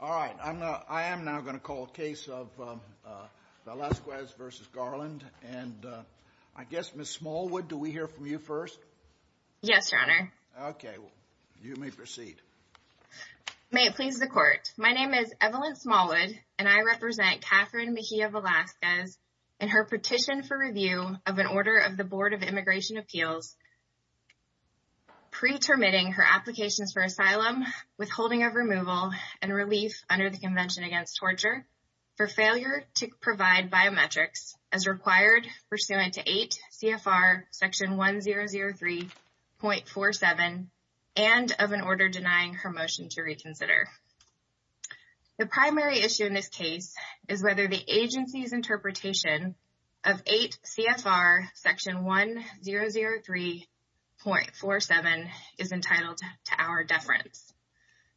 All right. I am now going to call a case of Velasquez versus Garland. And I guess, Ms. Smallwood, do we hear from you first? Yes, Your Honor. Okay. You may proceed. May it please the court. My name is Evelyn Smallwood, and I represent Katherin Mejia-Velasquez in her petition for review of an order of the relief under the Convention Against Torture for failure to provide biometrics as required pursuant to 8 CFR section 1003.47 and of an order denying her motion to reconsider. The primary issue in this case is whether the agency's interpretation of 8 CFR section 1003.47 is entitled to our deference.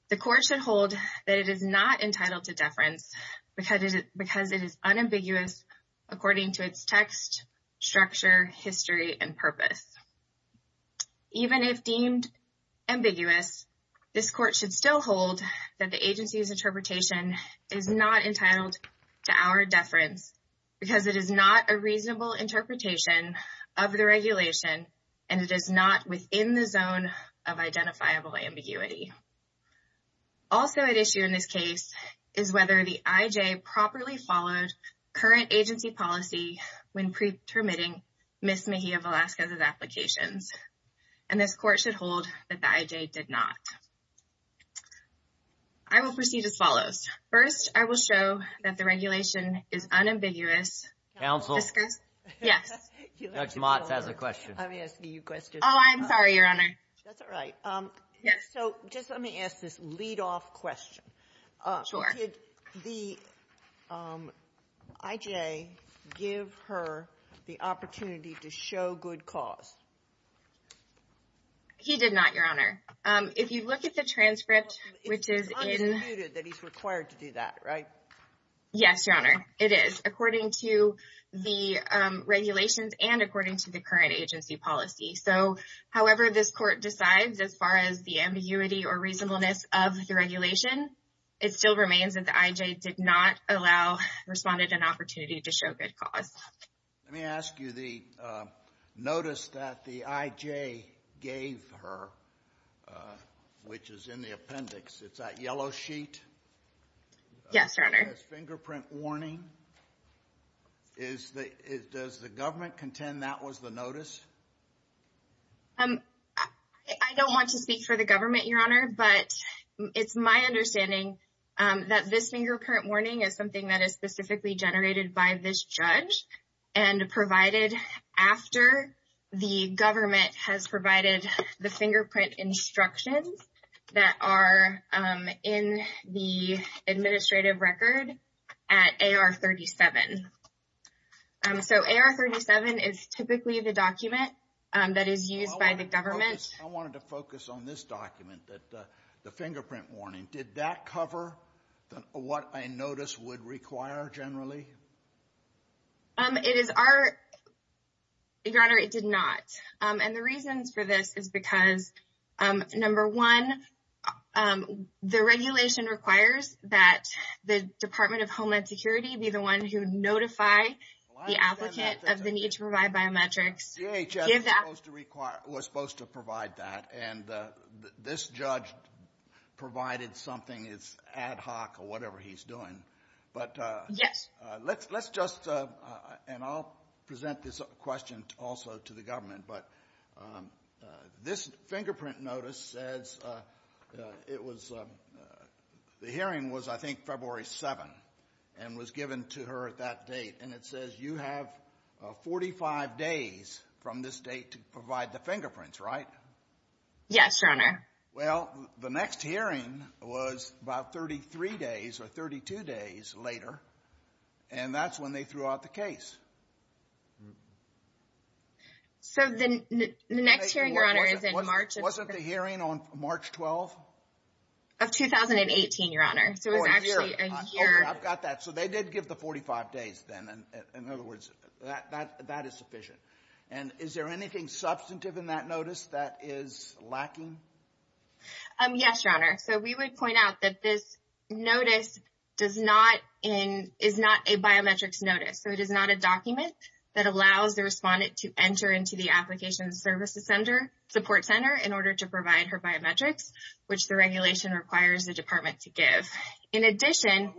The court should hold that it is not entitled to deference because it is unambiguous according to its text, structure, history, and purpose. Even if deemed ambiguous, this court should still hold that the agency's interpretation is not entitled to our deference because it is not a reasonable interpretation of the regulation, and it is not within the zone of identifiable ambiguity. Also at issue in this case is whether the IJ properly followed current agency policy when pretermitting Ms. Mejia-Velasquez's applications. And this court should hold that the IJ did not. I will proceed as follows. First, I will show that the regulation is unambiguous. So just let me ask this lead-off question. Did the IJ give her the opportunity to show good cause? He did not, Your Honor. If you look at the transcript, which is in... It's unmuted that he's required to do that, right? Yes, Your Honor. It is, according to the regulations and according to the current agency policy. So however this court decides as far as the ambiguity or reasonableness of the regulation, it still remains that the IJ did not allow respondent an opportunity to show good cause. Let me ask you the notice that the IJ gave her, which is in the appendix. It's that yellow sheet. Yes, Your Honor. The fingerprint warning. Does the government contend that was the notice? I don't want to speak for the government, Your Honor, but it's my understanding that this fingerprint warning is something that is specifically generated by this judge and provided after the government has provided the fingerprint instructions that are in the administrative record at AR-37. So AR-37 is typically the document that is used by the government. I wanted to focus on this document, the fingerprint warning. Did that cover what a notice would require generally? It is our... Your Honor, it did not. And the reasons for this is because, number one, the regulation requires that the Department of Homeland Security be the one who notify the applicant of the need to provide biometrics. DHS was supposed to provide that, and this judge provided something. It's ad hoc or whatever he's doing. But let's just... And I'll present this question also to the government. But this fingerprint notice says it was... The hearing was, I think, February 7, and was given to her at that date. And it says you have 45 days from this date to provide the fingerprints, right? Yes, Your Honor. Well, the next hearing was about 33 days or 32 days later, and that's when they threw out the case. So the next hearing, Your Honor, is in March of... Wasn't the hearing on March 12? Of 2018, Your Honor. So it was actually a year... Oh, a year. Okay, I've got that. So they did give the 45 days then. In other words, that is sufficient. And is there anything substantive in that notice that is lacking? Yes, Your Honor. So we would point out that this notice is not a biometrics notice. So it is not a document that allows the respondent to enter into the application services support center in order to provide her biometrics, which the in addition...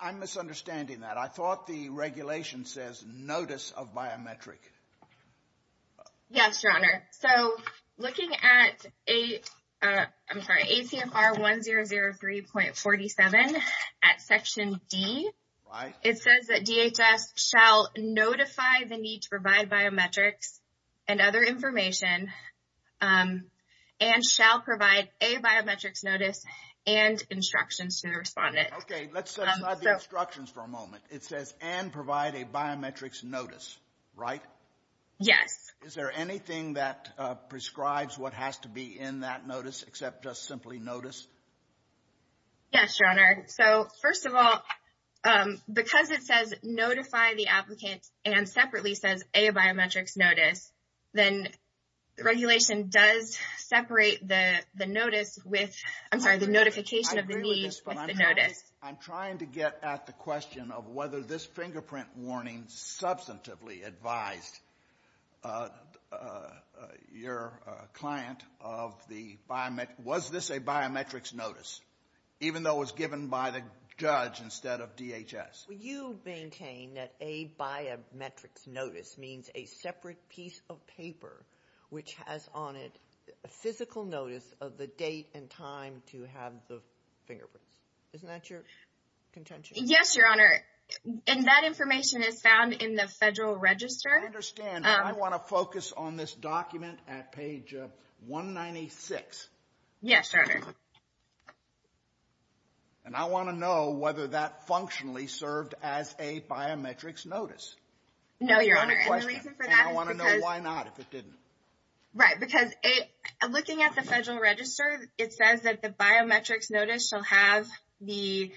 I'm misunderstanding that. I thought the regulation says notice of biometric. Yes, Your Honor. So looking at ACMR 1003.47 at section D, it says that DHS shall notify the need to provide biometrics and other information and shall provide a biometrics notice and instructions to the respondent. Okay, let's set aside the instructions for a moment. It says and provide a biometrics notice, right? Yes. Is there anything that prescribes what has to be in that notice except just simply notice? Yes, Your Honor. So first of all, because it says notify the applicant and separately says a biometrics notice, then the regulation does separate the notice with... I'm sorry, the notification of the need with the notice. I agree with this, but I'm trying to get at the question of whether this fingerprint warning substantively advised your client of the biome... Was this a biometrics notice, even though it was given by the judge instead of DHS? You maintain that a biometrics notice means a separate piece of paper which has on it a physical notice of the date and time to have the fingerprints. Isn't that your contention? Yes, Your Honor. And that information is found in the federal register. I understand, but I want to focus on this document at page 196. Yes, Your Honor. And I want to know whether that functionally served as a biometrics notice. No, Your Honor. And the reason for that is because... And I want to know why not, if it didn't. Right. Because looking at the federal register, it says that the biometrics notice shall have the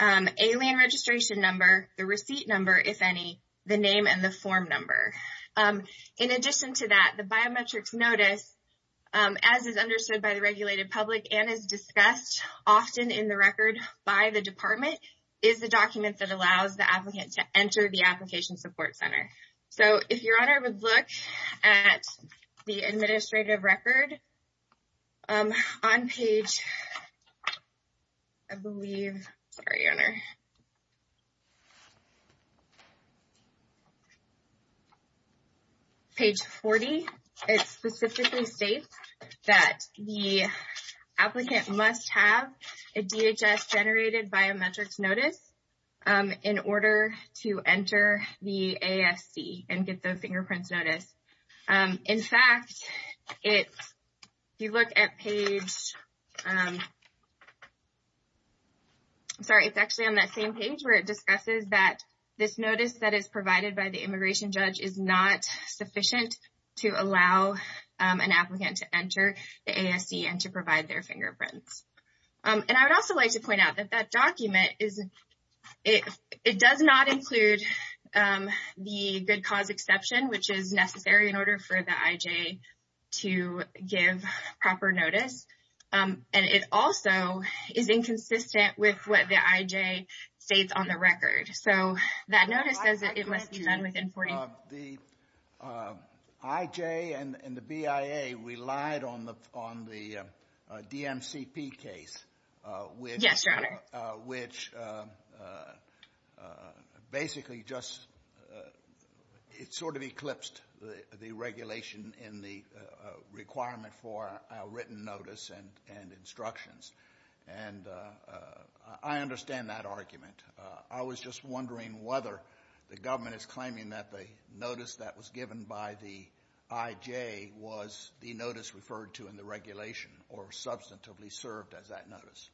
alien registration number, the receipt number, if any, the name and the form number. In addition to that, the biometrics notice, as is understood by the regulated public and is discussed often in the record by the department, is the document that allows the applicant to enter the application support center. So, if Your Honor would look at the administrative record on page... I believe... Sorry, Your Honor. On page 40, it specifically states that the applicant must have a DHS-generated biometrics notice in order to enter the ASC and get the fingerprints notice. In fact, if you look at page... the immigration judge is not sufficient to allow an applicant to enter the ASC and to provide their fingerprints. And I would also like to point out that that document does not include the good cause exception, which is necessary in order for the IJ to give proper notice. And it also is inconsistent with what the IJ states on the record. So, that notice says that it must be done within 40... The IJ and the BIA relied on the DMCP case, which basically just... it sort of eclipsed the regulation in the requirement for our written notice and instructions. And I understand that argument. I was just wondering whether the government is claiming that the notice that was given by the IJ was the notice referred to in the regulation or substantively served as that notice.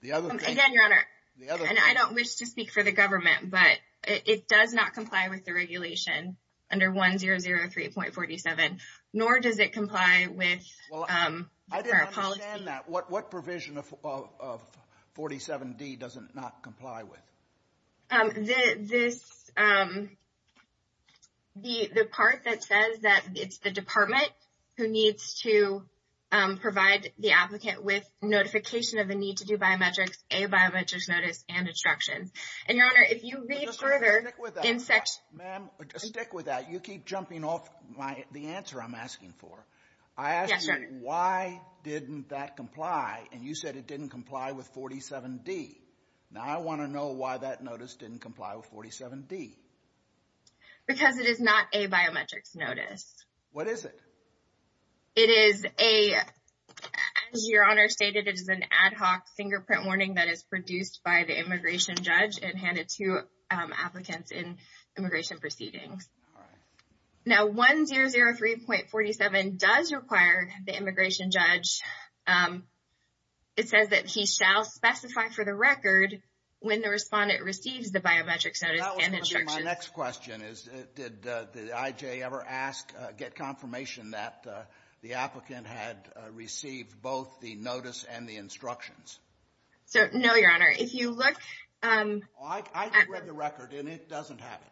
The other thing... Again, Your Honor, and I don't wish to speak for the government, but it does not comply with the regulation under 1003.47, nor does it comply with our policy... Well, I didn't understand that. What provision of 47D does it not comply with? The part that says that it's the department who needs to provide the applicant with notification of the need to do biometrics, a biometrics notice, and instructions. And Your Honor, if you read further in section... Ma'am, stick with that. You keep jumping off the answer I'm asking for. I asked you, why didn't that comply? And you said it didn't comply with 47D. Now, I want to know why that notice didn't comply with 47D. Because it is not a biometrics notice. What is it? It is a... As Your Honor stated, it is an ad hoc fingerprint warning that is produced by the immigration proceedings. Now, 1003.47 does require the immigration judge... It says that he shall specify for the record when the respondent receives the biometrics notice and instructions. My next question is, did the IJ ever get confirmation that the applicant had received both the notice and the instructions? No, Your Honor. If you look... I read the record and it doesn't have it.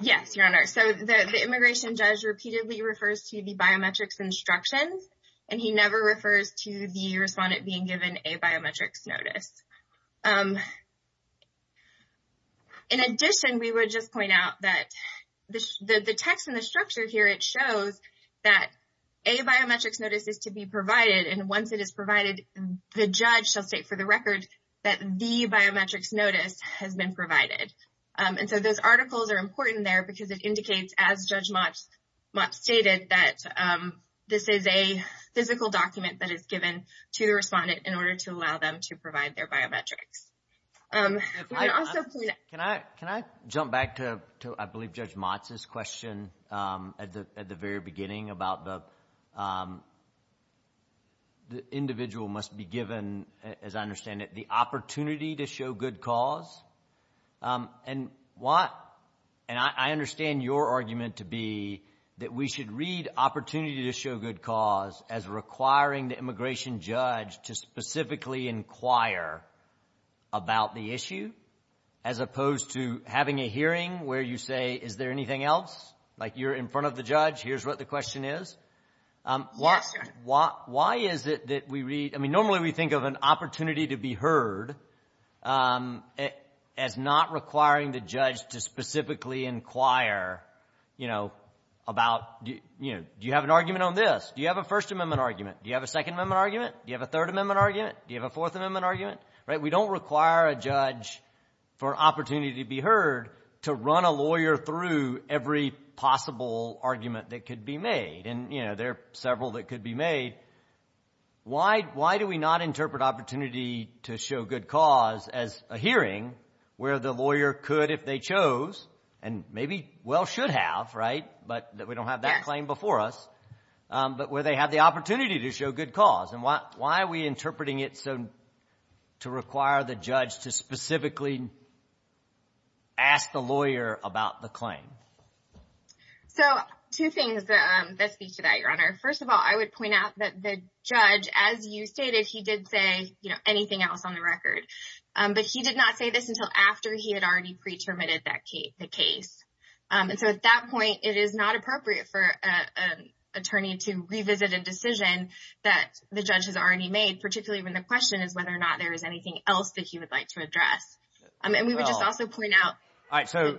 Yes, Your Honor. So, the immigration judge repeatedly refers to the biometrics instructions, and he never refers to the respondent being given a biometrics notice. In addition, we would just point out that the text in the structure here, it shows that a biometrics notice is to be provided. And once it is provided, the judge shall state for the record that the biometrics notice has been provided. And so, those articles are important there because it indicates, as Judge Motz stated, that this is a physical document that is given to the respondent in order to allow them to provide their biometrics. Can I jump back to, I believe, Judge Motz's question at the very beginning about the individual must be given, as I understand it, the opportunity to show good cause. And I understand your argument to be that we should read opportunity to show good cause as requiring the immigration judge to specifically inquire about the issue, as opposed to having a hearing where you say, is there anything else? Like, you're in front of the judge, here's what the question is. Why is it that we read, I mean, normally we think of an opportunity to be heard as not requiring the judge to specifically inquire about, do you have an argument on this? Do you have a First Amendment argument? Do you have a Second Amendment argument? Do you have a Third Amendment argument? Do you have a Fourth Amendment argument? We don't require a judge for opportunity to be heard to run a lawyer through every possible argument that could be made. And, you know, there are several that could be made. Why do we not interpret opportunity to show good cause as a hearing where the lawyer could, if they chose, and maybe, well, should have, right, but we don't have that claim before us, but where they have the opportunity to show good cause? And why are we interpreting it to require the judge to specifically ask the lawyer about the claim? So, two things that speak to that, Your Honor. First of all, I would point out that the judge, as you stated, he did say, you know, anything else on the record, but he did not say this until after he had already pre-terminated the case. And so, at that point, it is not appropriate for an attorney to revisit a decision that the judge has already made, particularly when the question is whether or not there is anything else that he would like to address. And we would just also point out. All right. So,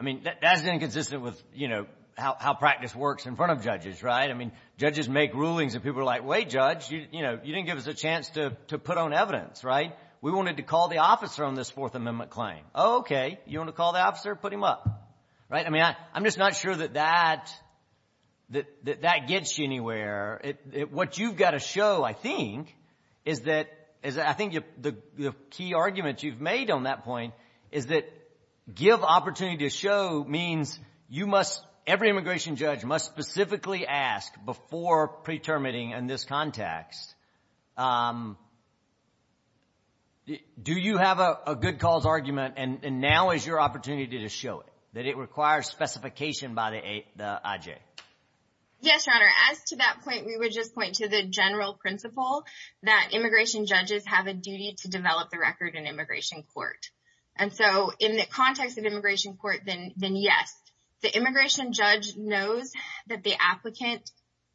I mean, that's inconsistent with, you know, how practice works in front of judges, right? I mean, judges make rulings, and people are like, wait, Judge, you know, you didn't give us a chance to put on evidence, right? We wanted to call the officer on this Fourth Amendment claim. Oh, okay. You want to call the officer? Put him up, right? I mean, I'm just not sure that that gets you anywhere. What you've got to show, I think, is that, I think the key argument you've made on that point is that give opportunity to show means you must, every immigration judge must specifically ask before pre-terminating in this context, do you have a good cause argument? And now is your opportunity to show it, that it requires specification by the IJ. Yes, Your Honor. As to that point, we would just point to the general principle that immigration judges have a duty to develop the record in immigration court. And so in the context of immigration court, then yes, the immigration judge knows that the applicant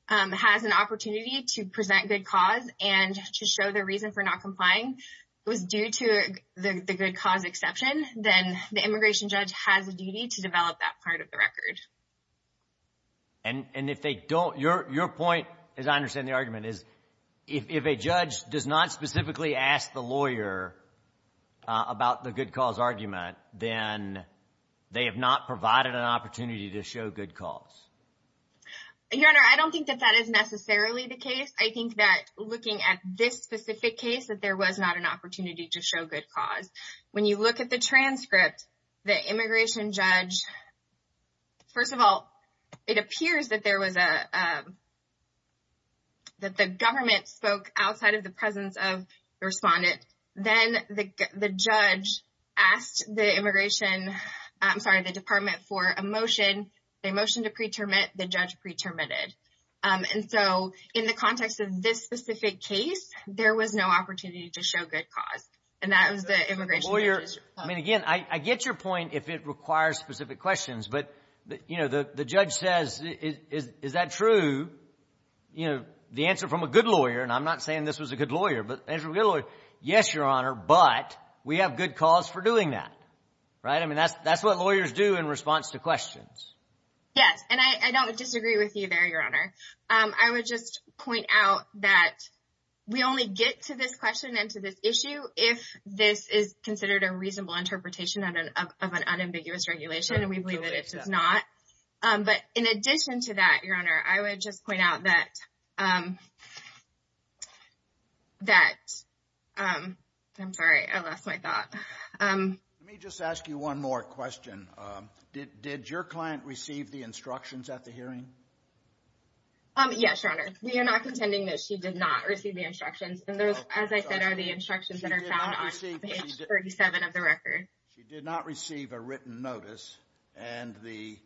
has an opportunity to present good cause and to show their reason for not complying was due to the good cause exception, then the immigration judge has a duty to develop that part of the record. And if they don't, your point, as I understand the argument, is if a judge does not specifically ask the lawyer about the good cause argument, then they have not provided an opportunity to show good cause. Your Honor, I don't think that is necessarily the case. I think that looking at this specific case, that there was not an opportunity to show good cause. When you look at the transcript, the immigration judge, first of all, it appears that the government spoke outside of the presence of the respondent. Then the judge asked the immigration, I'm sorry, the department for a motion, the judge pre-terminated. And so in the context of this specific case, there was no opportunity to show good cause. And that was the immigration judge. I mean, again, I get your point if it requires specific questions, but the judge says, is that true? The answer from a good lawyer, and I'm not saying this was a good lawyer, but the answer from a good lawyer, yes, Your Honor, but we have good cause for doing that, right? I mean, that's what lawyers do in response to questions. Yes. And I don't disagree with you there, Your Honor. I would just point out that we only get to this question and to this issue if this is considered a reasonable interpretation of an unambiguous regulation, and we believe that it does not. But in addition to that, Your Honor, I would just point out that... I'm sorry, I lost my thought. Let me just ask you one more question. Did your client receive the instructions at the hearing? Yes, Your Honor. We are not contending that she did not receive the instructions. And those, as I said, are the instructions that are found on page 37 of the record. She did not receive a written notice, and the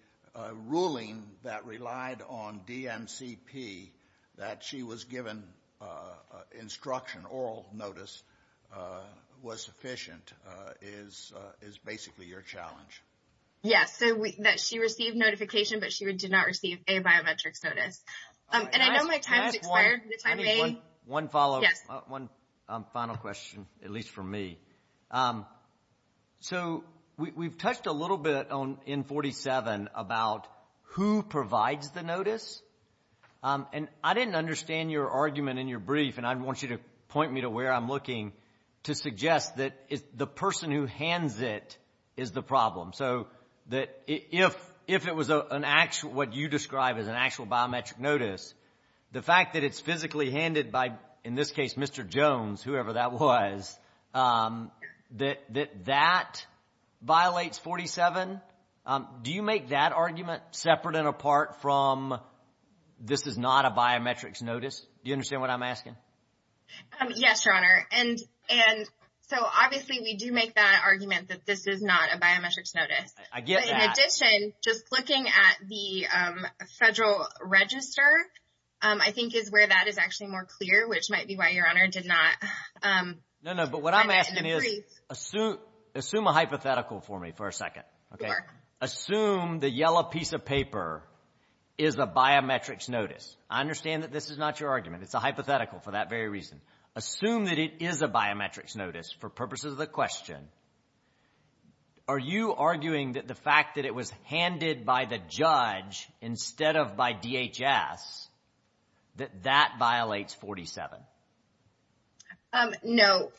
ruling that relied on DMCP, that she was given instruction, oral notice, was sufficient, is basically your challenge. Yes, that she received notification, but she did not receive a biometrics notice. And I know my time has expired, but if I may... One follow-up. Yes. One final question, at least for me. So we've touched a little bit in 47 about who provides the notice, and I didn't understand your argument in your brief, and I want you to point me to where I'm looking to suggest that the person who hands it is the problem. So that if it was an actual, what you describe as an actual biometric notice, the fact that it's physically handed by, in this case, Mr. Jones, whoever that was, that that violates 47, do you make that argument separate and apart from, this is not a biometrics notice? Do you understand what I'm asking? Yes, Your Honor. And so obviously, we do make that argument that this is not a biometrics notice. I get that. But in addition, just looking at the federal register, I think is where that is actually more clear, which might be why Your Honor did not... No, no. But what I'm asking is, assume a hypothetical for me for a second. Sure. Assume the yellow piece of paper is a biometrics notice. I understand that this is not your argument. It's a hypothetical for that very reason. Assume that it is a biometrics notice for purposes of the question. Are you arguing that the fact that it was handed by the judge instead of by DHS, that that violates 47? No.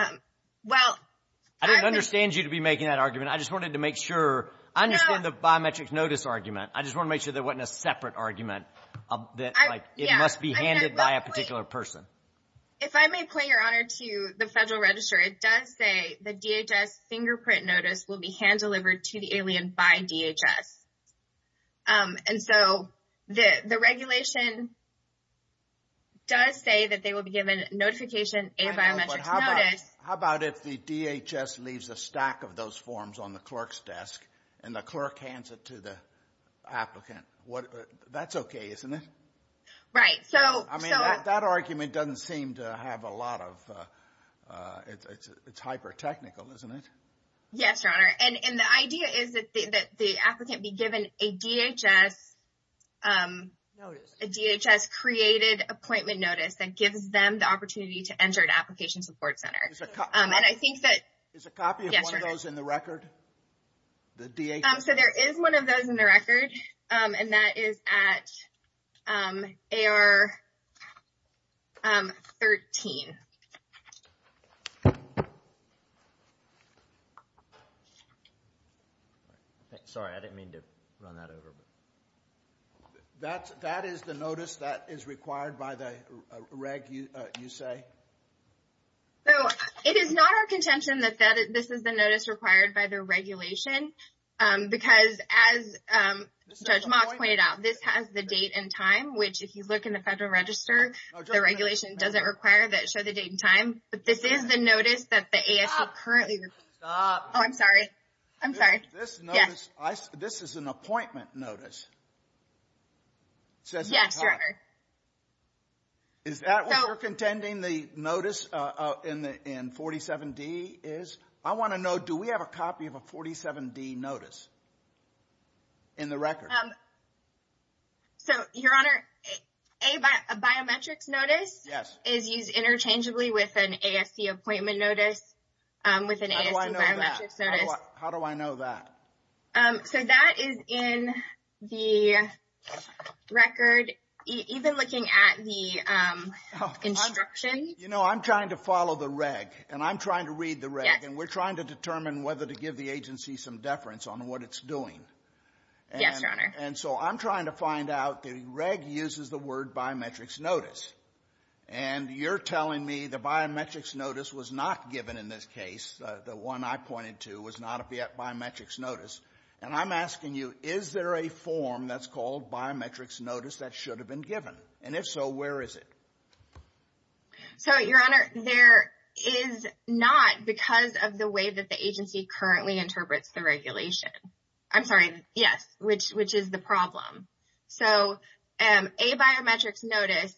I didn't understand you to be making that argument. I just wanted to make sure... I understand the biometrics notice argument. I just want to make sure there wasn't a separate argument that it must be handed by a particular person. If I may point, Your Honor, to the federal register, it does say the DHS fingerprint notice will be hand delivered to the alien by DHS. And so the regulation does say that they will be given notification, a biometrics notice. How about if the DHS leaves a stack of those forms on the clerk's desk, and the clerk hands it to the applicant? That's okay, isn't it? Right. I mean, that argument doesn't seem to have a lot of... It's hyper-technical, isn't it? Yes, Your Honor. And the idea is that the applicant be given a DHS- Notice. A DHS-created appointment notice that gives them the opportunity to enter an application support center. And I think that- Is a copy of one of those in the record? The DHS- So there is one of those in the record, and that is at AR 13. Sorry, I didn't mean to run that over. That is the notice that is required by the reg, you say? So it is not our contention that this is the Judge Mox pointed out. This has the date and time, which if you look in the Federal Register, the regulation doesn't require that it show the date and time. But this is the notice that the ASO currently- Stop. Stop. Oh, I'm sorry. I'm sorry. This notice, this is an appointment notice. It says on the card. Yes, Your Honor. Is that what you're contending the notice in 47D is? I want to know, do we have a copy of a 47D notice in the record? So, Your Honor, a biometrics notice- Yes. Is used interchangeably with an ASC appointment notice, with an ASC biometrics notice. How do I know that? So that is in the record. Even looking at the instruction- You know, I'm trying to follow the reg, and I'm trying to read the reg, and we're trying to determine whether to give the agency some deference on what it's doing. Yes, Your Honor. And so I'm trying to find out the reg uses the word biometrics notice. And you're telling me the biometrics notice was not given in this case. The one I pointed to was not a biometrics notice. And I'm asking you, is there a form that's called biometrics notice that should have been given? And if so, where is it? So, Your Honor, there is not, because of the way that the agency currently interprets the regulation. I'm sorry, yes, which is the problem. So, a biometrics notice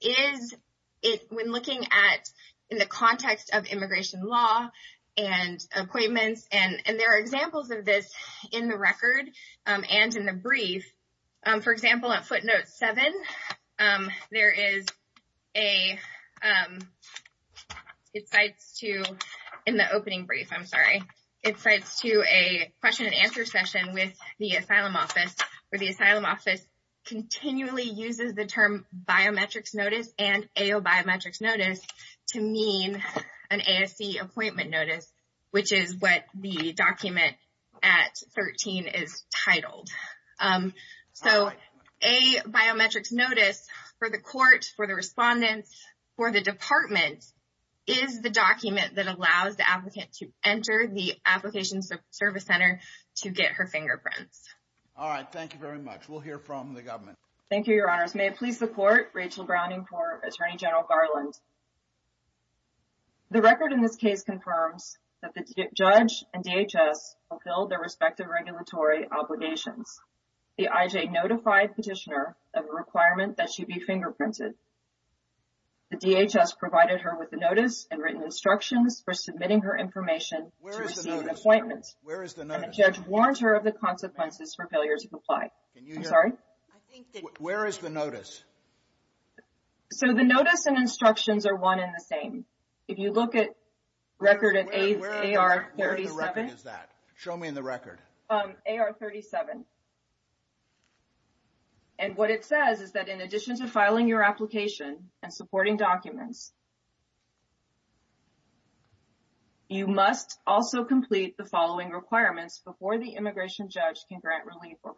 is, when looking at, in the context of immigration law and appointments, and there are examples of this in the record and in the brief. For example, at footnote seven, there is a, it cites to, in the opening brief, I'm sorry, it cites to a question and answer session with the asylum office, where the asylum office continually uses the term biometrics notice and AO biometrics notice to mean an ASC appointment notice, which is what the document at 13 is titled. So, a biometrics notice for the court, for the respondents, for the department is the document that allows the applicant to enter the application service center to get her fingerprints. All right, thank you very much. We'll hear from the government. Thank you, Your Honors. May it please the court, Rachel Browning for Attorney General Garland. The record in this case confirms that the judge and DHS fulfilled their respective regulatory obligations. The IJ notified petitioner of a requirement that she be fingerprinted. The DHS provided her with a notice and written instructions for submitting her information to receive an appointment. Where is the notice? Where is the notice? And the judge warned her of the consequences for failure to comply. Can you hear me? I'm sorry? I think that... Where is the notice? So, the notice and instructions are one and the same. If you look at record at AR-37... Where is the record is that? Show me in the record. AR-37. And what it says is that in addition to filing your application and supporting documents, you must also complete the following requirements before the immigration judge can grant relief or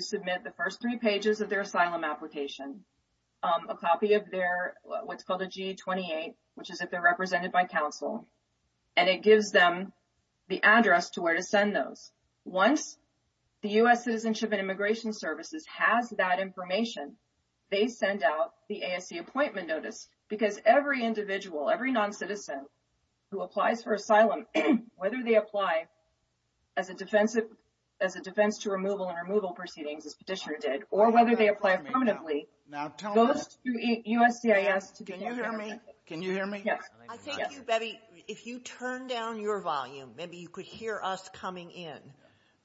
submit the first three pages of their asylum application. A copy of their... What's called a G28, which is if they're represented by counsel. And it gives them the address to where to send those. Once the U.S. Citizenship and Immigration Services has that information, they send out the ASC appointment notice. Because every individual, every non-citizen who applies for asylum, whether they apply as a defense to removal and removal proceedings, as Petitioner did, or whether they apply permanently, goes to USCIS to... Can you hear me? Can you hear me? Yes. I think you better... If you turn down your volume, maybe you could hear us coming in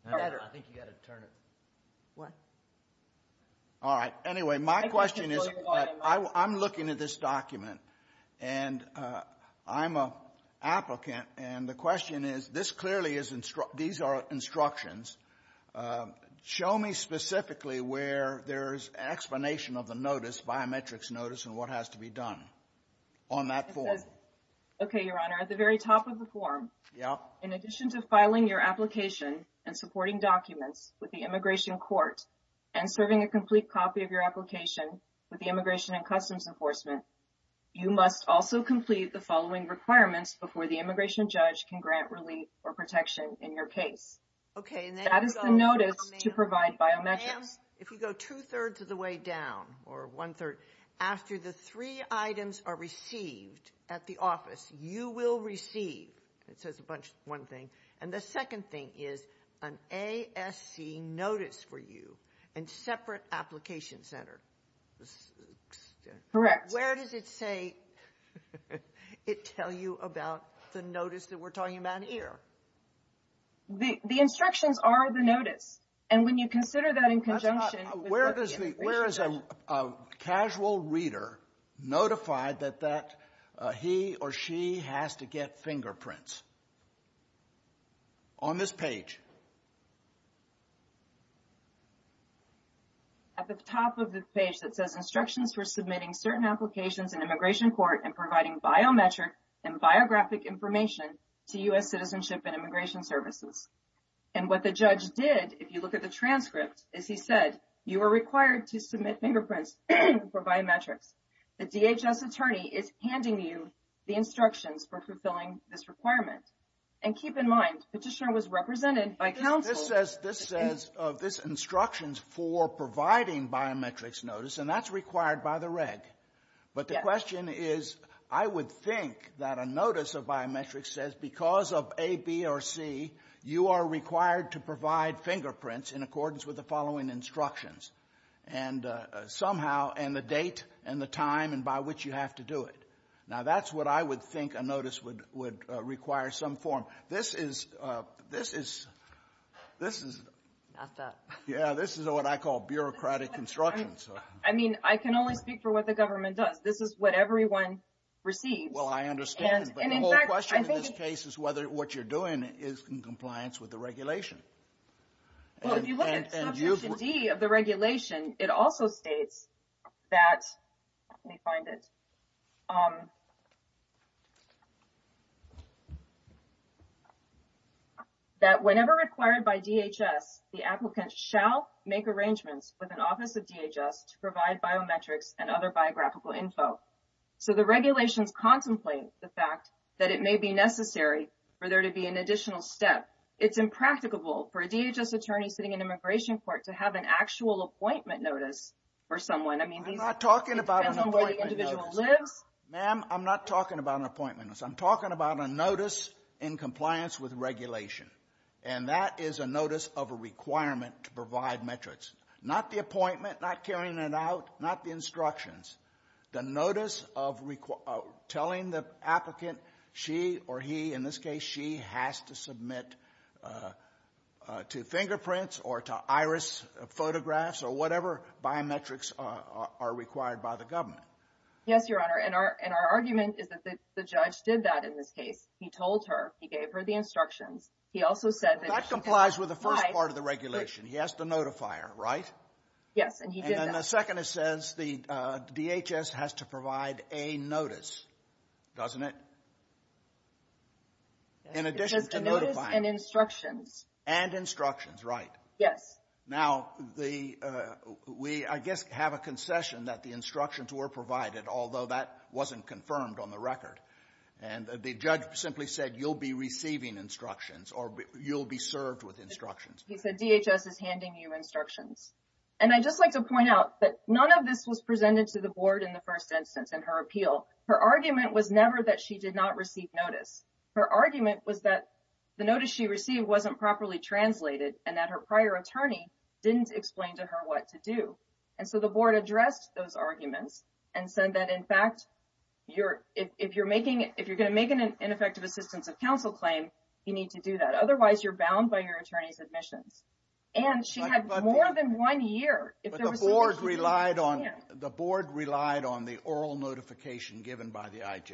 better. I think you got to turn it. What? All right. Anyway, my question is... I'm looking at this document and I'm an immigration judge. My question is, this clearly is... These are instructions. Show me specifically where there's an explanation of the notice, biometrics notice, and what has to be done on that form. Okay, Your Honor. At the very top of the form, in addition to filing your application and supporting documents with the immigration court and serving a complete copy of your application with the Immigration and Customs Enforcement, you must also complete the following requirements before the immigration judge can grant relief or protection in your case. Okay, and then you go... That is the notice to provide biometrics. If you go two-thirds of the way down, or one-third, after the three items are received at the office, you will receive... It says one thing. And the second thing is an ASC notice for you and separate application center. Correct. Where does it say... It tell you about the notice that we're talking about here? The instructions are the notice. And when you consider that in conjunction... That's not... Where is a casual reader notified that he or she has to get fingerprints? On this page. At the top of the page that says, instructions for submitting certain applications in immigration court and providing biometric and biographic information to U.S. Citizenship and Immigration Services. And what the judge did, if you look at the transcript, is he said, you are required to submit fingerprints for biometrics. The DHS attorney is handing you the instructions for fulfilling this requirement. And keep in mind, petitioner was represented in this case, this says, this instructions for providing biometrics notice, and that's required by the reg. But the question is, I would think that a notice of biometrics says, because of A, B, or C, you are required to provide fingerprints in accordance with the following instructions. And somehow, and the date, and the time, and by which you have to do it. Now, that's what I think a notice would require some form. This is what I call bureaucratic instructions. I mean, I can only speak for what the government does. This is what everyone receives. Well, I understand. But the whole question in this case is whether what you're doing is in compliance with the regulation. Well, if you look at section D of the regulation, it also states that, let me find it, that whenever required by DHS, the applicant shall make arrangements with an office of DHS to provide biometrics and other biographical info. So the regulations contemplate the fact that it may be necessary for there to be an additional step. It's impracticable for a DHS attorney sitting in an immigration court to have an actual appointment notice for someone. I'm not talking about an appointment notice. Ma'am, I'm not talking about an appointment. I'm talking about a notice in compliance with regulation. And that is a notice of a requirement to provide metrics. Not the appointment, not carrying it out, not the instructions. The notice of telling the applicant she or he, in this case, she has to submit a fingerprint or to iris photographs or whatever biometrics are required by the government. Yes, Your Honor. And our argument is that the judge did that in this case. He told her, he gave her the instructions. He also said that- That complies with the first part of the regulation. He has to notify her, right? Yes, and he did that. And the second, it says DHS has to provide a notice, doesn't it? In addition to notifying- It says a notice and instructions. And instructions, right? Yes. Now, we, I guess, have a concession that the instructions were provided, although that wasn't confirmed on the record. And the judge simply said, you'll be receiving instructions or you'll be served with instructions. He said, DHS is handing you instructions. And I'd just like to point out that none of this was presented to the board in the first instance in her appeal. Her argument was never that she did not receive notice. Her argument was that the notice she received wasn't properly translated and that her prior attorney didn't explain to her what to do. And so, the board addressed those arguments and said that, in fact, if you're going to make an ineffective assistance of counsel claim, you need to do that. Otherwise, you're bound by your attorney's admissions. And she had more than one year. But the board relied on the oral notification given by the IJ.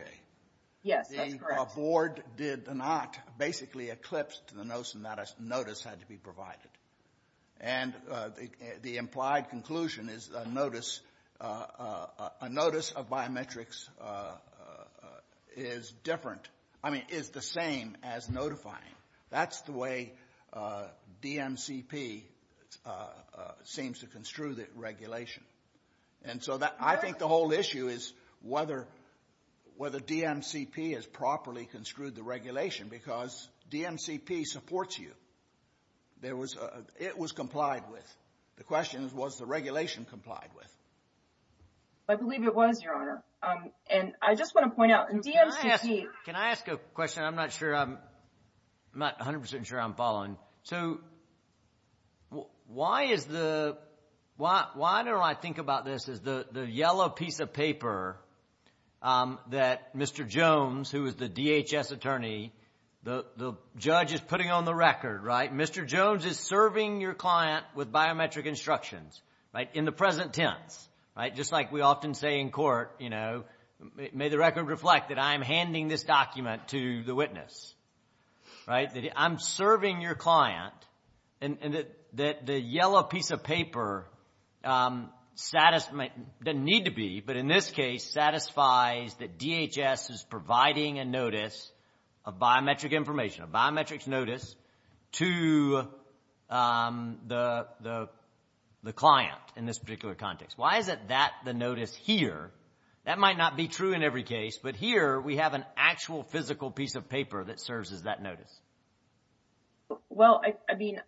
Yes, that's correct. The board did not basically eclipsed the notion that a notice had to be provided. And the implied conclusion is a notice of biometrics is different. I mean, is the same as notifying. That's the way DMCP seems to construe the regulation. And so, I think the whole issue is whether DMCP has properly construed the regulation because DMCP supports you. It was complied with. The question is, was the regulation complied with? I believe it was, Your Honor. And I just want to point out, DMCP... Can I ask a question? I'm not 100% sure I'm following. So, why don't I think about this as the yellow piece of paper that Mr. Jones, who is the DHS attorney, the judge is putting on the record, right? Mr. Jones is serving your client with biometric instructions, right? In the present tense, right? Just like we often say in court, you know, may the record reflect that I'm handing this document to the witness, right? I'm serving your client and that the yellow piece of paper doesn't need to be, but in this case satisfies that DHS is providing a notice of biometric information, a biometrics notice to the client in this particular context. Why isn't that the notice here? That might not be true in every case, but here we have an actual physical piece of paper that serves as that notice. Well, I mean,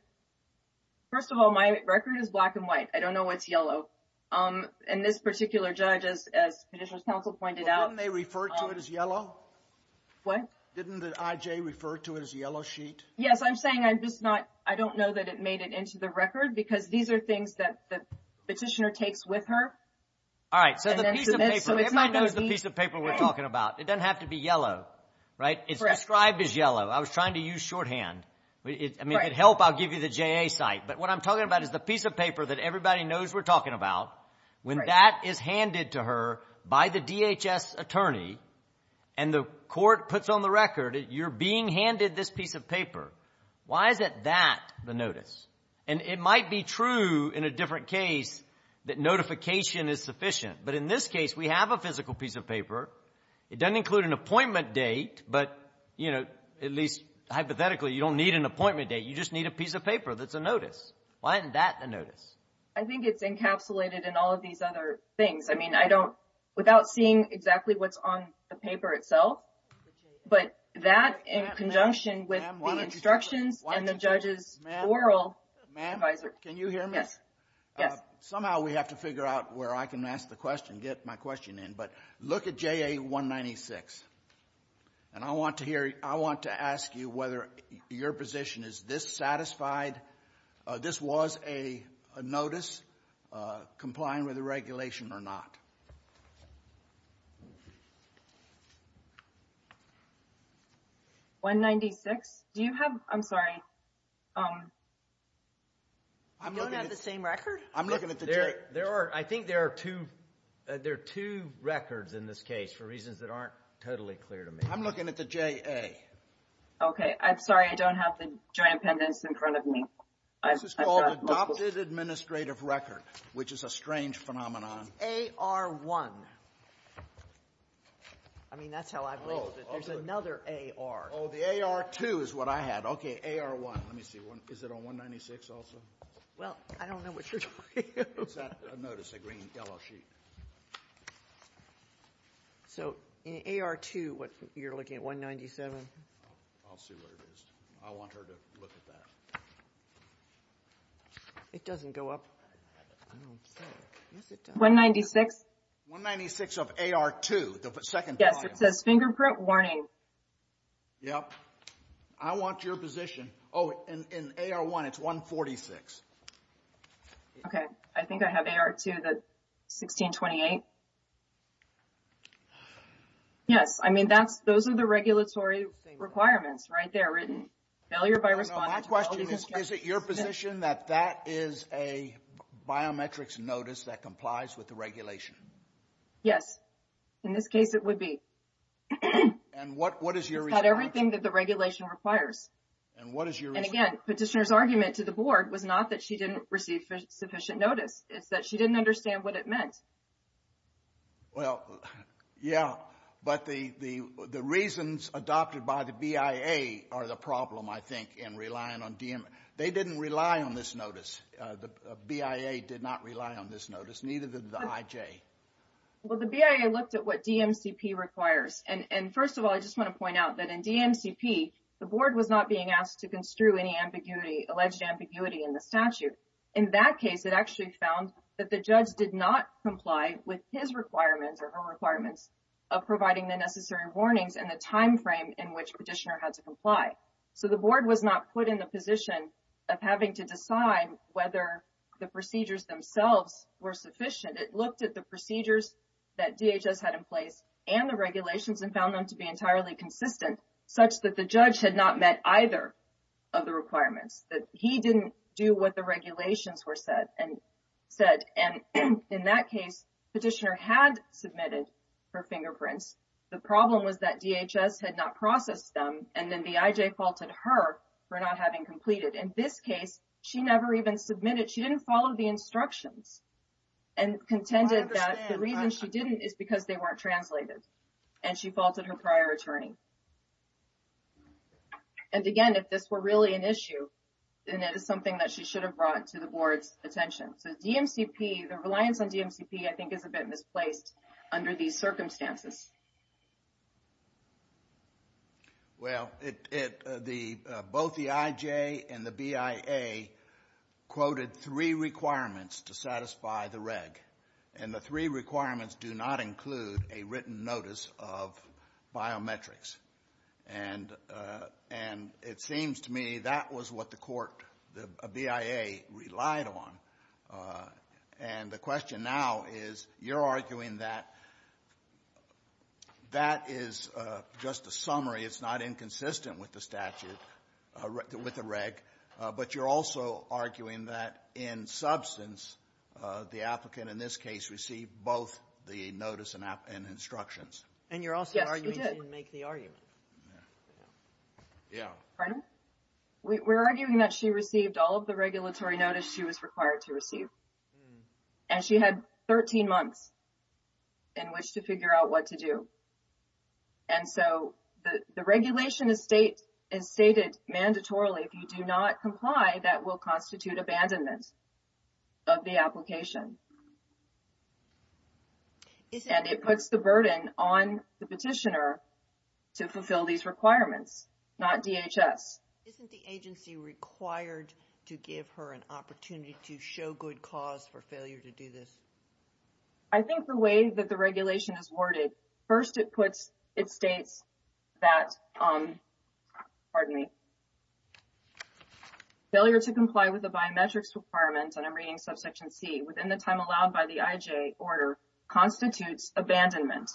first of all, my record is black and white. I don't know what's yellow. And this particular judge, as Petitioner's counsel pointed out. But didn't they refer to it as yellow? What? Didn't the IJ refer to it as yellow sheet? Yes. I'm saying I'm just not, I don't know that it made it into the record because these are things that the petitioner takes with her. All right. So, the piece of paper, everybody knows the piece of paper we're talking about. It doesn't have to be yellow, right? It's described as yellow. I was trying to use shorthand. I mean, if it helps, I'll give you the JA site. But what I'm talking about is the piece of paper that everybody knows we're talking about when that is handed to her by the DHS attorney and the court puts on the record that you're being handed this piece of paper. Why isn't that the notice? And it might be true in a different case that notification is sufficient. But in this case, we have a physical piece of paper. It doesn't include an appointment date, but, you know, at least hypothetically, you don't need an appointment date. You just need a piece of I think it's encapsulated in all of these other things. I mean, I don't, without seeing exactly what's on the paper itself, but that in conjunction with the instructions and the judge's oral advisor. Ma'am, can you hear me? Yes. Yes. Somehow we have to figure out where I can ask the question, get my question in. But look at JA 196. And I want to hear, I want to ask you whether your position is this satisfied. This was a notice complying with the regulation or not. 196. Do you have, I'm sorry. I'm looking at the same record. I'm looking at the, there are, I think there are two, there are two records in this case for reasons that aren't totally clear to me. I'm looking at the JA. Okay. I'm sorry. I don't have the giant pendants in front of me. This is called adopted administrative record, which is a strange phenomenon. AR1. I mean, that's how I've labeled it. There's another AR. Oh, the AR2 is what I had. Okay. AR1. Let me see. Is it on 196 also? Well, I don't know what you're talking about. It's that notice, the green yellow sheet. Okay. So, in AR2, what, you're looking at 197? I'll see what it is. I want her to look at that. It doesn't go up. I don't see it. 196. 196 of AR2, the second column. Yes. It says fingerprint warning. Yep. I want your position. Oh, in AR1, it's 146. Okay. I think I have AR2, that's 1628. Yes. I mean, those are the regulatory requirements right there written. Failure by response. My question is, is it your position that that is a biometrics notice that complies with the regulation? Yes. In this case, it would be. And what is your response? It's got everything that the regulation requires. And what is your response? Again, petitioner's argument to the board was not that she didn't receive sufficient notice. It's that she didn't understand what it meant. Well, yeah. But the reasons adopted by the BIA are the problem, I think, in relying on DM. They didn't rely on this notice. The BIA did not rely on this notice, neither did the IJ. Well, the BIA looked at what DMCP requires. And first of all, I just want to point out that in alleged ambiguity in the statute, in that case, it actually found that the judge did not comply with his requirements or her requirements of providing the necessary warnings and the time frame in which petitioner had to comply. So the board was not put in the position of having to decide whether the procedures themselves were sufficient. It looked at the procedures that DHS had in place and the regulations and found them to met either of the requirements, that he didn't do what the regulations were said. And in that case, petitioner had submitted her fingerprints. The problem was that DHS had not processed them. And then the IJ faulted her for not having completed. In this case, she never even submitted. She didn't follow the instructions and contended that the reason she didn't is because they weren't translated. And she faulted her prior attorney. And again, if this were really an issue, then that is something that she should have brought to the board's attention. So DMCP, the reliance on DMCP, I think is a bit misplaced under these circumstances. Well, both the IJ and the BIA quoted three requirements to satisfy the reg. And the three requirements do not include a written notice of biometrics. And it seems to me that was what the court, the BIA, relied on. And the question now is, you're arguing that that is just a summary. It's not inconsistent with the statute, with the reg. But you're also in this case, received both the notice and instructions. And you're also arguing she didn't make the argument. Yeah. Pardon? We're arguing that she received all of the regulatory notice she was required to receive. And she had 13 months in which to figure out what to do. And so the regulation is stated mandatorily, if you do not comply, that will constitute abandonment of the application. And it puts the burden on the petitioner to fulfill these requirements, not DHS. Isn't the agency required to give her an opportunity to show good cause for failure to do this? I think the way that the regulation is worded, first it puts, it states that, pardon me, failure to comply with the biometrics requirements, and I'm reading subsection C, within the time allowed by the IJ order constitutes abandonment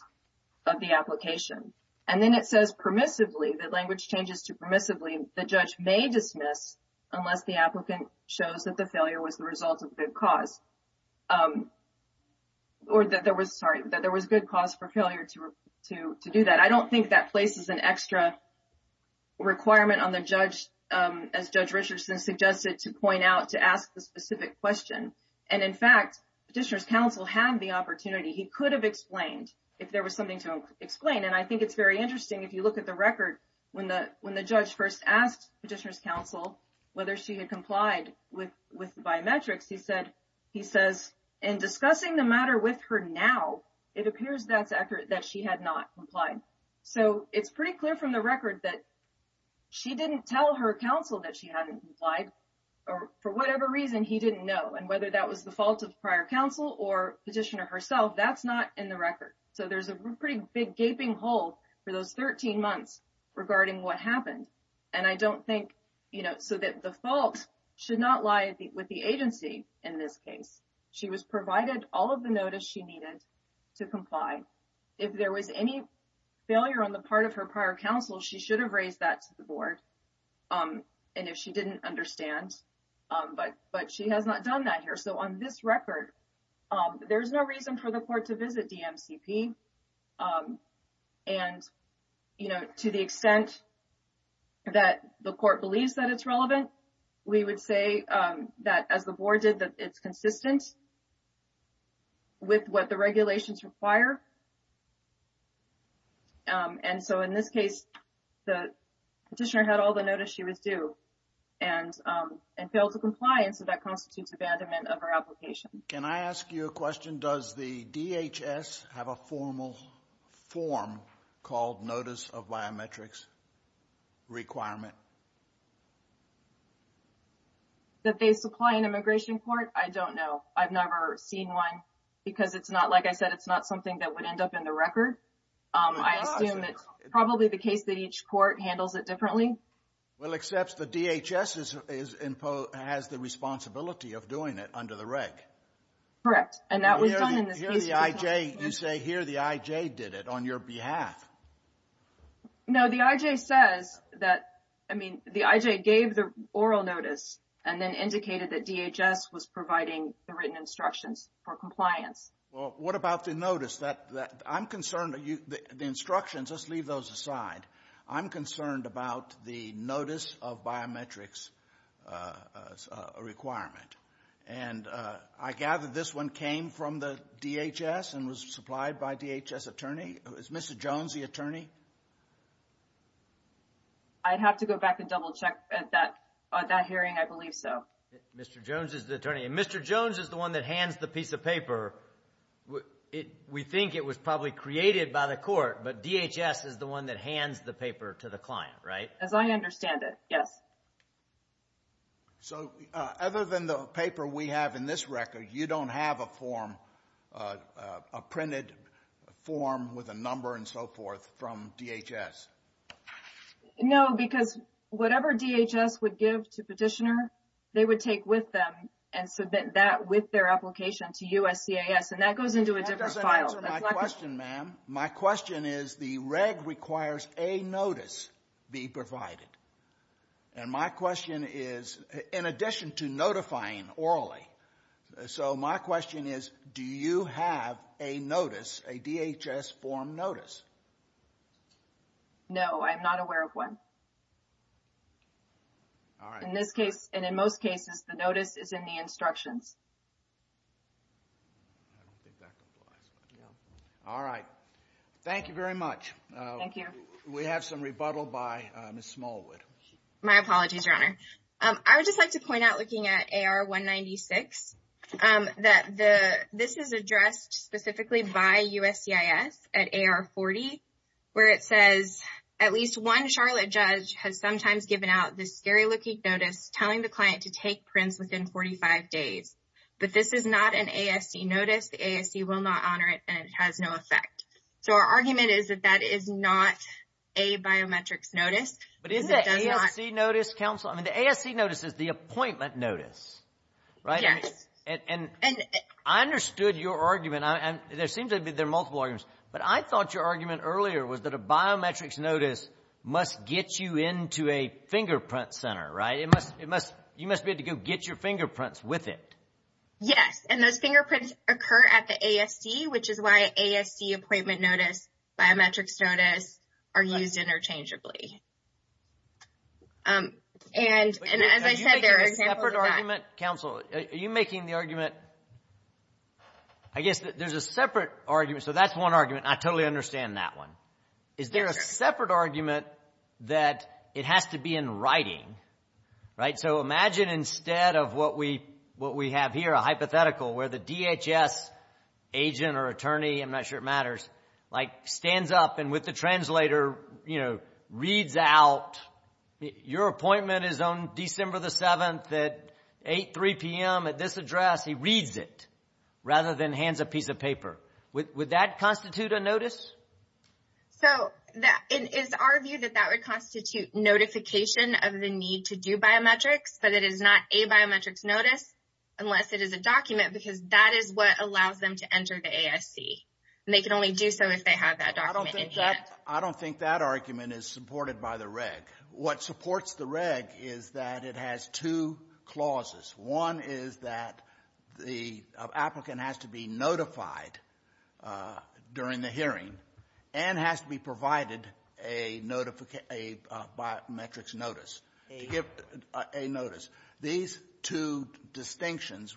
of the application. And then it says permissively, the language changes to permissively, the judge may dismiss unless the applicant shows that the failure was the result of good cause. Or that there was, sorry, that there was good cause for failure to do that. I don't think that as Judge Richardson suggested to point out to ask the specific question. And in fact, petitioner's counsel had the opportunity, he could have explained if there was something to explain. And I think it's very interesting if you look at the record when the judge first asked petitioner's counsel whether she had complied with the biometrics, he says, in discussing the matter with her now, it appears that she had not complied. So it's pretty clear from the record that she didn't tell her counsel that she hadn't complied, or for whatever reason, he didn't know. And whether that was the fault of prior counsel or petitioner herself, that's not in the record. So there's a pretty big gaping hole for those 13 months regarding what happened. And I don't think, so that the fault should not lie with the agency in this case. She was provided all of the notice she needed to comply. If there was any failure on the part of her prior counsel, she should have raised that to the board. And if she didn't understand, but she has not done that here. So on this record, there's no reason for the court to visit DMCP. And to the extent that the court believes that it's relevant, we would say that as the board did, that it's consistent with what the regulations require. And so in this case, the petitioner had all the notice she was due and failed to comply. And so that constitutes abandonment of her application. Can I ask you a question? Does the DHS have a formal form called Notice of Biometrics Requirement? That they supply an immigration court? I don't know. I've never seen one because it's not, it's not something that would end up in the record. I assume it's probably the case that each court handles it differently. Well, except the DHS has the responsibility of doing it under the reg. Correct. And that was done in this case. You say here the IJ did it on your behalf. No, the IJ says that, I mean, the IJ gave the oral notice and then indicated that DHS was providing the written instructions for compliance. Well, what about the notice? I'm concerned, the instructions, let's leave those aside. I'm concerned about the Notice of Biometrics Requirement. And I gather this one came from the DHS and was supplied by DHS attorney. Is Mr. Jones the attorney? I'd have to go back and double check at that hearing, I believe so. Mr. Jones is the attorney and Mr. Jones is the one that hands the piece of paper. We think it was probably created by the court, but DHS is the one that hands the paper to the client, right? As I understand it, yes. So other than the paper we have in this record, you don't have a form, a printed form with a number and so forth from DHS? No, because whatever DHS would give to petitioner, they would take with them and submit that with their application to USCIS and that goes into a different file. That doesn't answer my question, ma'am. My question is the reg requires a notice be provided. And my question is, in addition to notifying orally, so my question is, do you have a notice, a DHS form notice? No, I'm not aware of one. All right. In this case, and in most cases, the notice is in the instructions. All right. Thank you very much. Thank you. We have some rebuttal by Ms. Smallwood. My apologies, Your Honor. I would just like to point out, looking at AR 196, that this is addressed specifically by USCIS at AR 40, where it says, at least one Charlotte judge has sometimes given out this scary-looking notice telling the client to take prints within 45 days. But this is not an ASC notice. The ASC will not honor it and it has no effect. So our argument is that that is not a biometrics notice. But isn't that ASC notice, counsel? I mean, the ASC notice is the appointment notice, right? Yes. And I understood your argument. There seems to be multiple arguments. But I thought your argument earlier was that a biometrics notice must get you into a fingerprint center, right? You must be able to go get your fingerprints with it. Yes. And those fingerprints occur at the ASC, which is why ASC appointment notice, biometrics notice, are used interchangeably. And as I said, there are examples of that. But are you making a separate argument, I guess there's a separate argument. So that's one argument. I totally understand that one. Is there a separate argument that it has to be in writing, right? So imagine instead of what we have here, a hypothetical, where the DHS agent or attorney, I'm not sure it matters, like stands up and with the translator, you know, reads out, your appointment is on December the 7th at 8, 3 p.m. at this address, he reads it rather than hands a piece of paper. Would that constitute a notice? So is our view that that would constitute notification of the need to do biometrics, but it is not a biometrics notice unless it is a document, because that is what allows them to enter the ASC. And they can only do so if they have that document in hand. I don't think that argument is supported by the reg. What supports the reg is that it has two clauses. One is that the applicant has to be notified during the hearing and has to be provided a biometrics notice, to give a notice. These two distinctions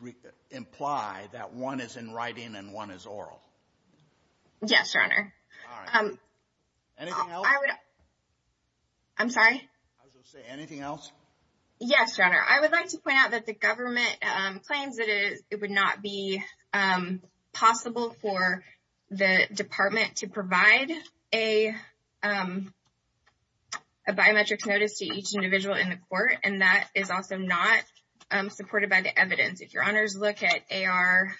imply that one is in writing and one is oral. Yes, Your Honor. Anything else? I'm sorry? Anything else? Yes, Your Honor. I would like to point out that the government claims that it would not be possible for the department to provide a biometrics notice to each individual in the court. And that is also not supported by the evidence. If Your Honors look at AR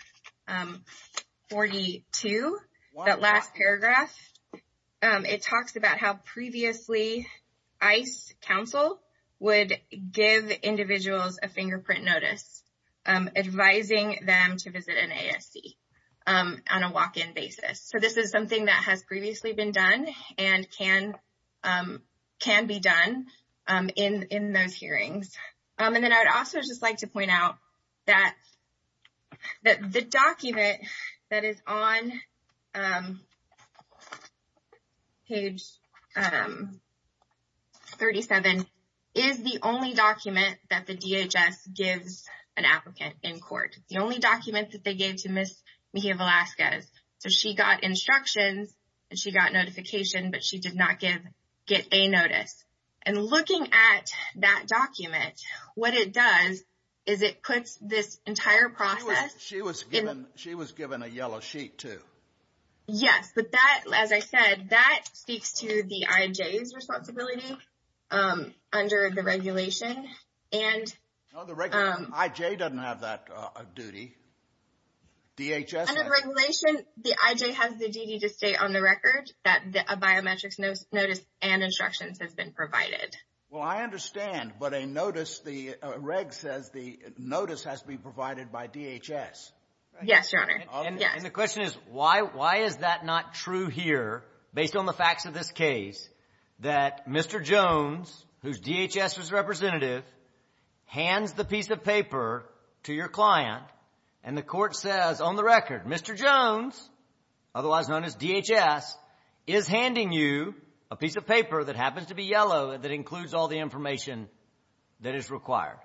42, that last paragraph, it talks about how previously ICE counsel would give individuals a fingerprint notice advising them to visit an ASC on a walk-in basis. So this is something that has previously been done and can be done in those hearings. And then I would also just like to point out that the document that is on page 37 is the only document that the DHS gives an applicant in court. The only document that they gave to Ms. Mejia-Velasquez. So she got instructions and she got notification, but she did not get a notice. And looking at that document, what it does is it puts this entire process... She was given a yellow sheet too. Yes. But that, as I said, that speaks to the IJ's responsibility under the regulation. And... No, the IJ doesn't have that duty. DHS... The IJ has the duty to stay on the record that a biometrics notice and instructions has been provided. Well, I understand. But a notice, the reg says the notice has to be provided by DHS. Yes, Your Honor. And the question is, why is that not true here based on the facts of this case that Mr. Jones, whose DHS was representative, hands the piece of paper to your client and the court says, on the record, Mr. Jones, otherwise known as DHS, is handing you a piece of paper that happens to be yellow and that includes all the information that is required?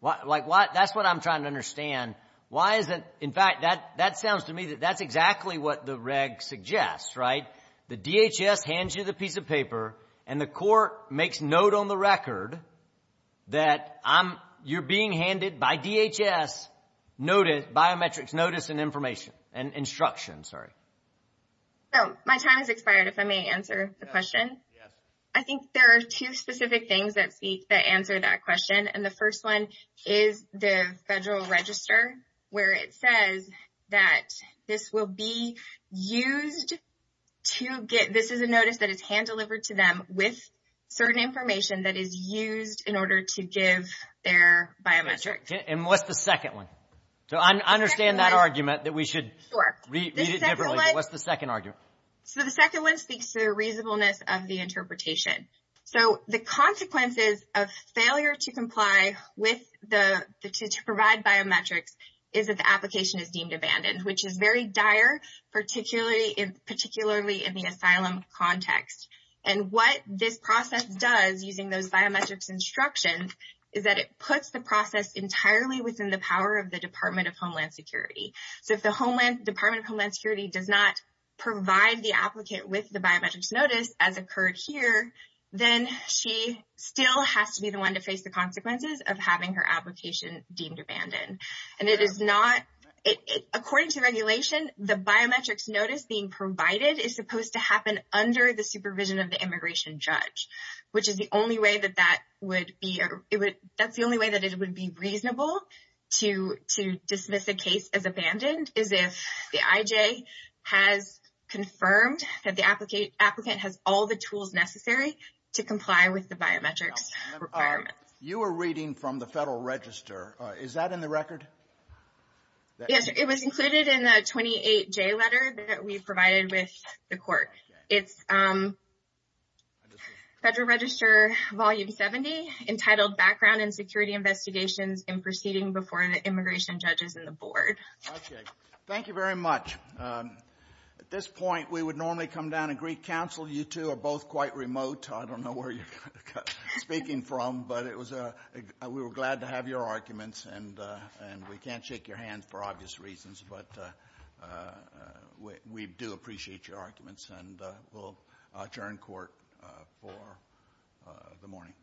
Like, that's what I'm trying to understand. Why is it... In fact, that sounds to me that that's exactly what the reg suggests, right? The DHS hands you the piece of paper and the court makes note on the record that I'm... You're being handed by DHS notice, biometrics notice and information and instructions. Sorry. My time has expired if I may answer the question. I think there are two specific things that speak, that answer that question. And the first one is the federal register, where it says that this will be used to get... This is a notice that is delivered to them with certain information that is used in order to give their biometrics. And what's the second one? So, I understand that argument that we should read it differently. What's the second argument? So, the second one speaks to the reasonableness of the interpretation. So, the consequences of failure to comply with the... To provide biometrics is that the application is deemed abandoned, which is very And what this process does using those biometrics instructions is that it puts the process entirely within the power of the Department of Homeland Security. So, if the Department of Homeland Security does not provide the applicant with the biometrics notice as occurred here, then she still has to be the one to face the consequences of having her application deemed abandoned. And it is not... According to regulation, the biometrics notice being provided is supposed to happen under the supervision of the immigration judge, which is the only way that that would be... That's the only way that it would be reasonable to dismiss a case as abandoned is if the IJ has confirmed that the applicant has all the tools necessary to comply with the biometrics requirements. You were reading from the federal register. Is that in the record? Yes, it was included in the 28J letter that we provided with the court. It's federal register volume 70, entitled Background and Security Investigations in Proceeding Before the Immigration Judges and the Board. Okay. Thank you very much. At this point, we would normally come down and greet counsel. You two are both quite remote. I don't know where you're speaking from, but it was... We were glad to have your arguments, and we can't shake your hands for obvious reasons, but we do appreciate your arguments, and we'll adjourn court for the morning.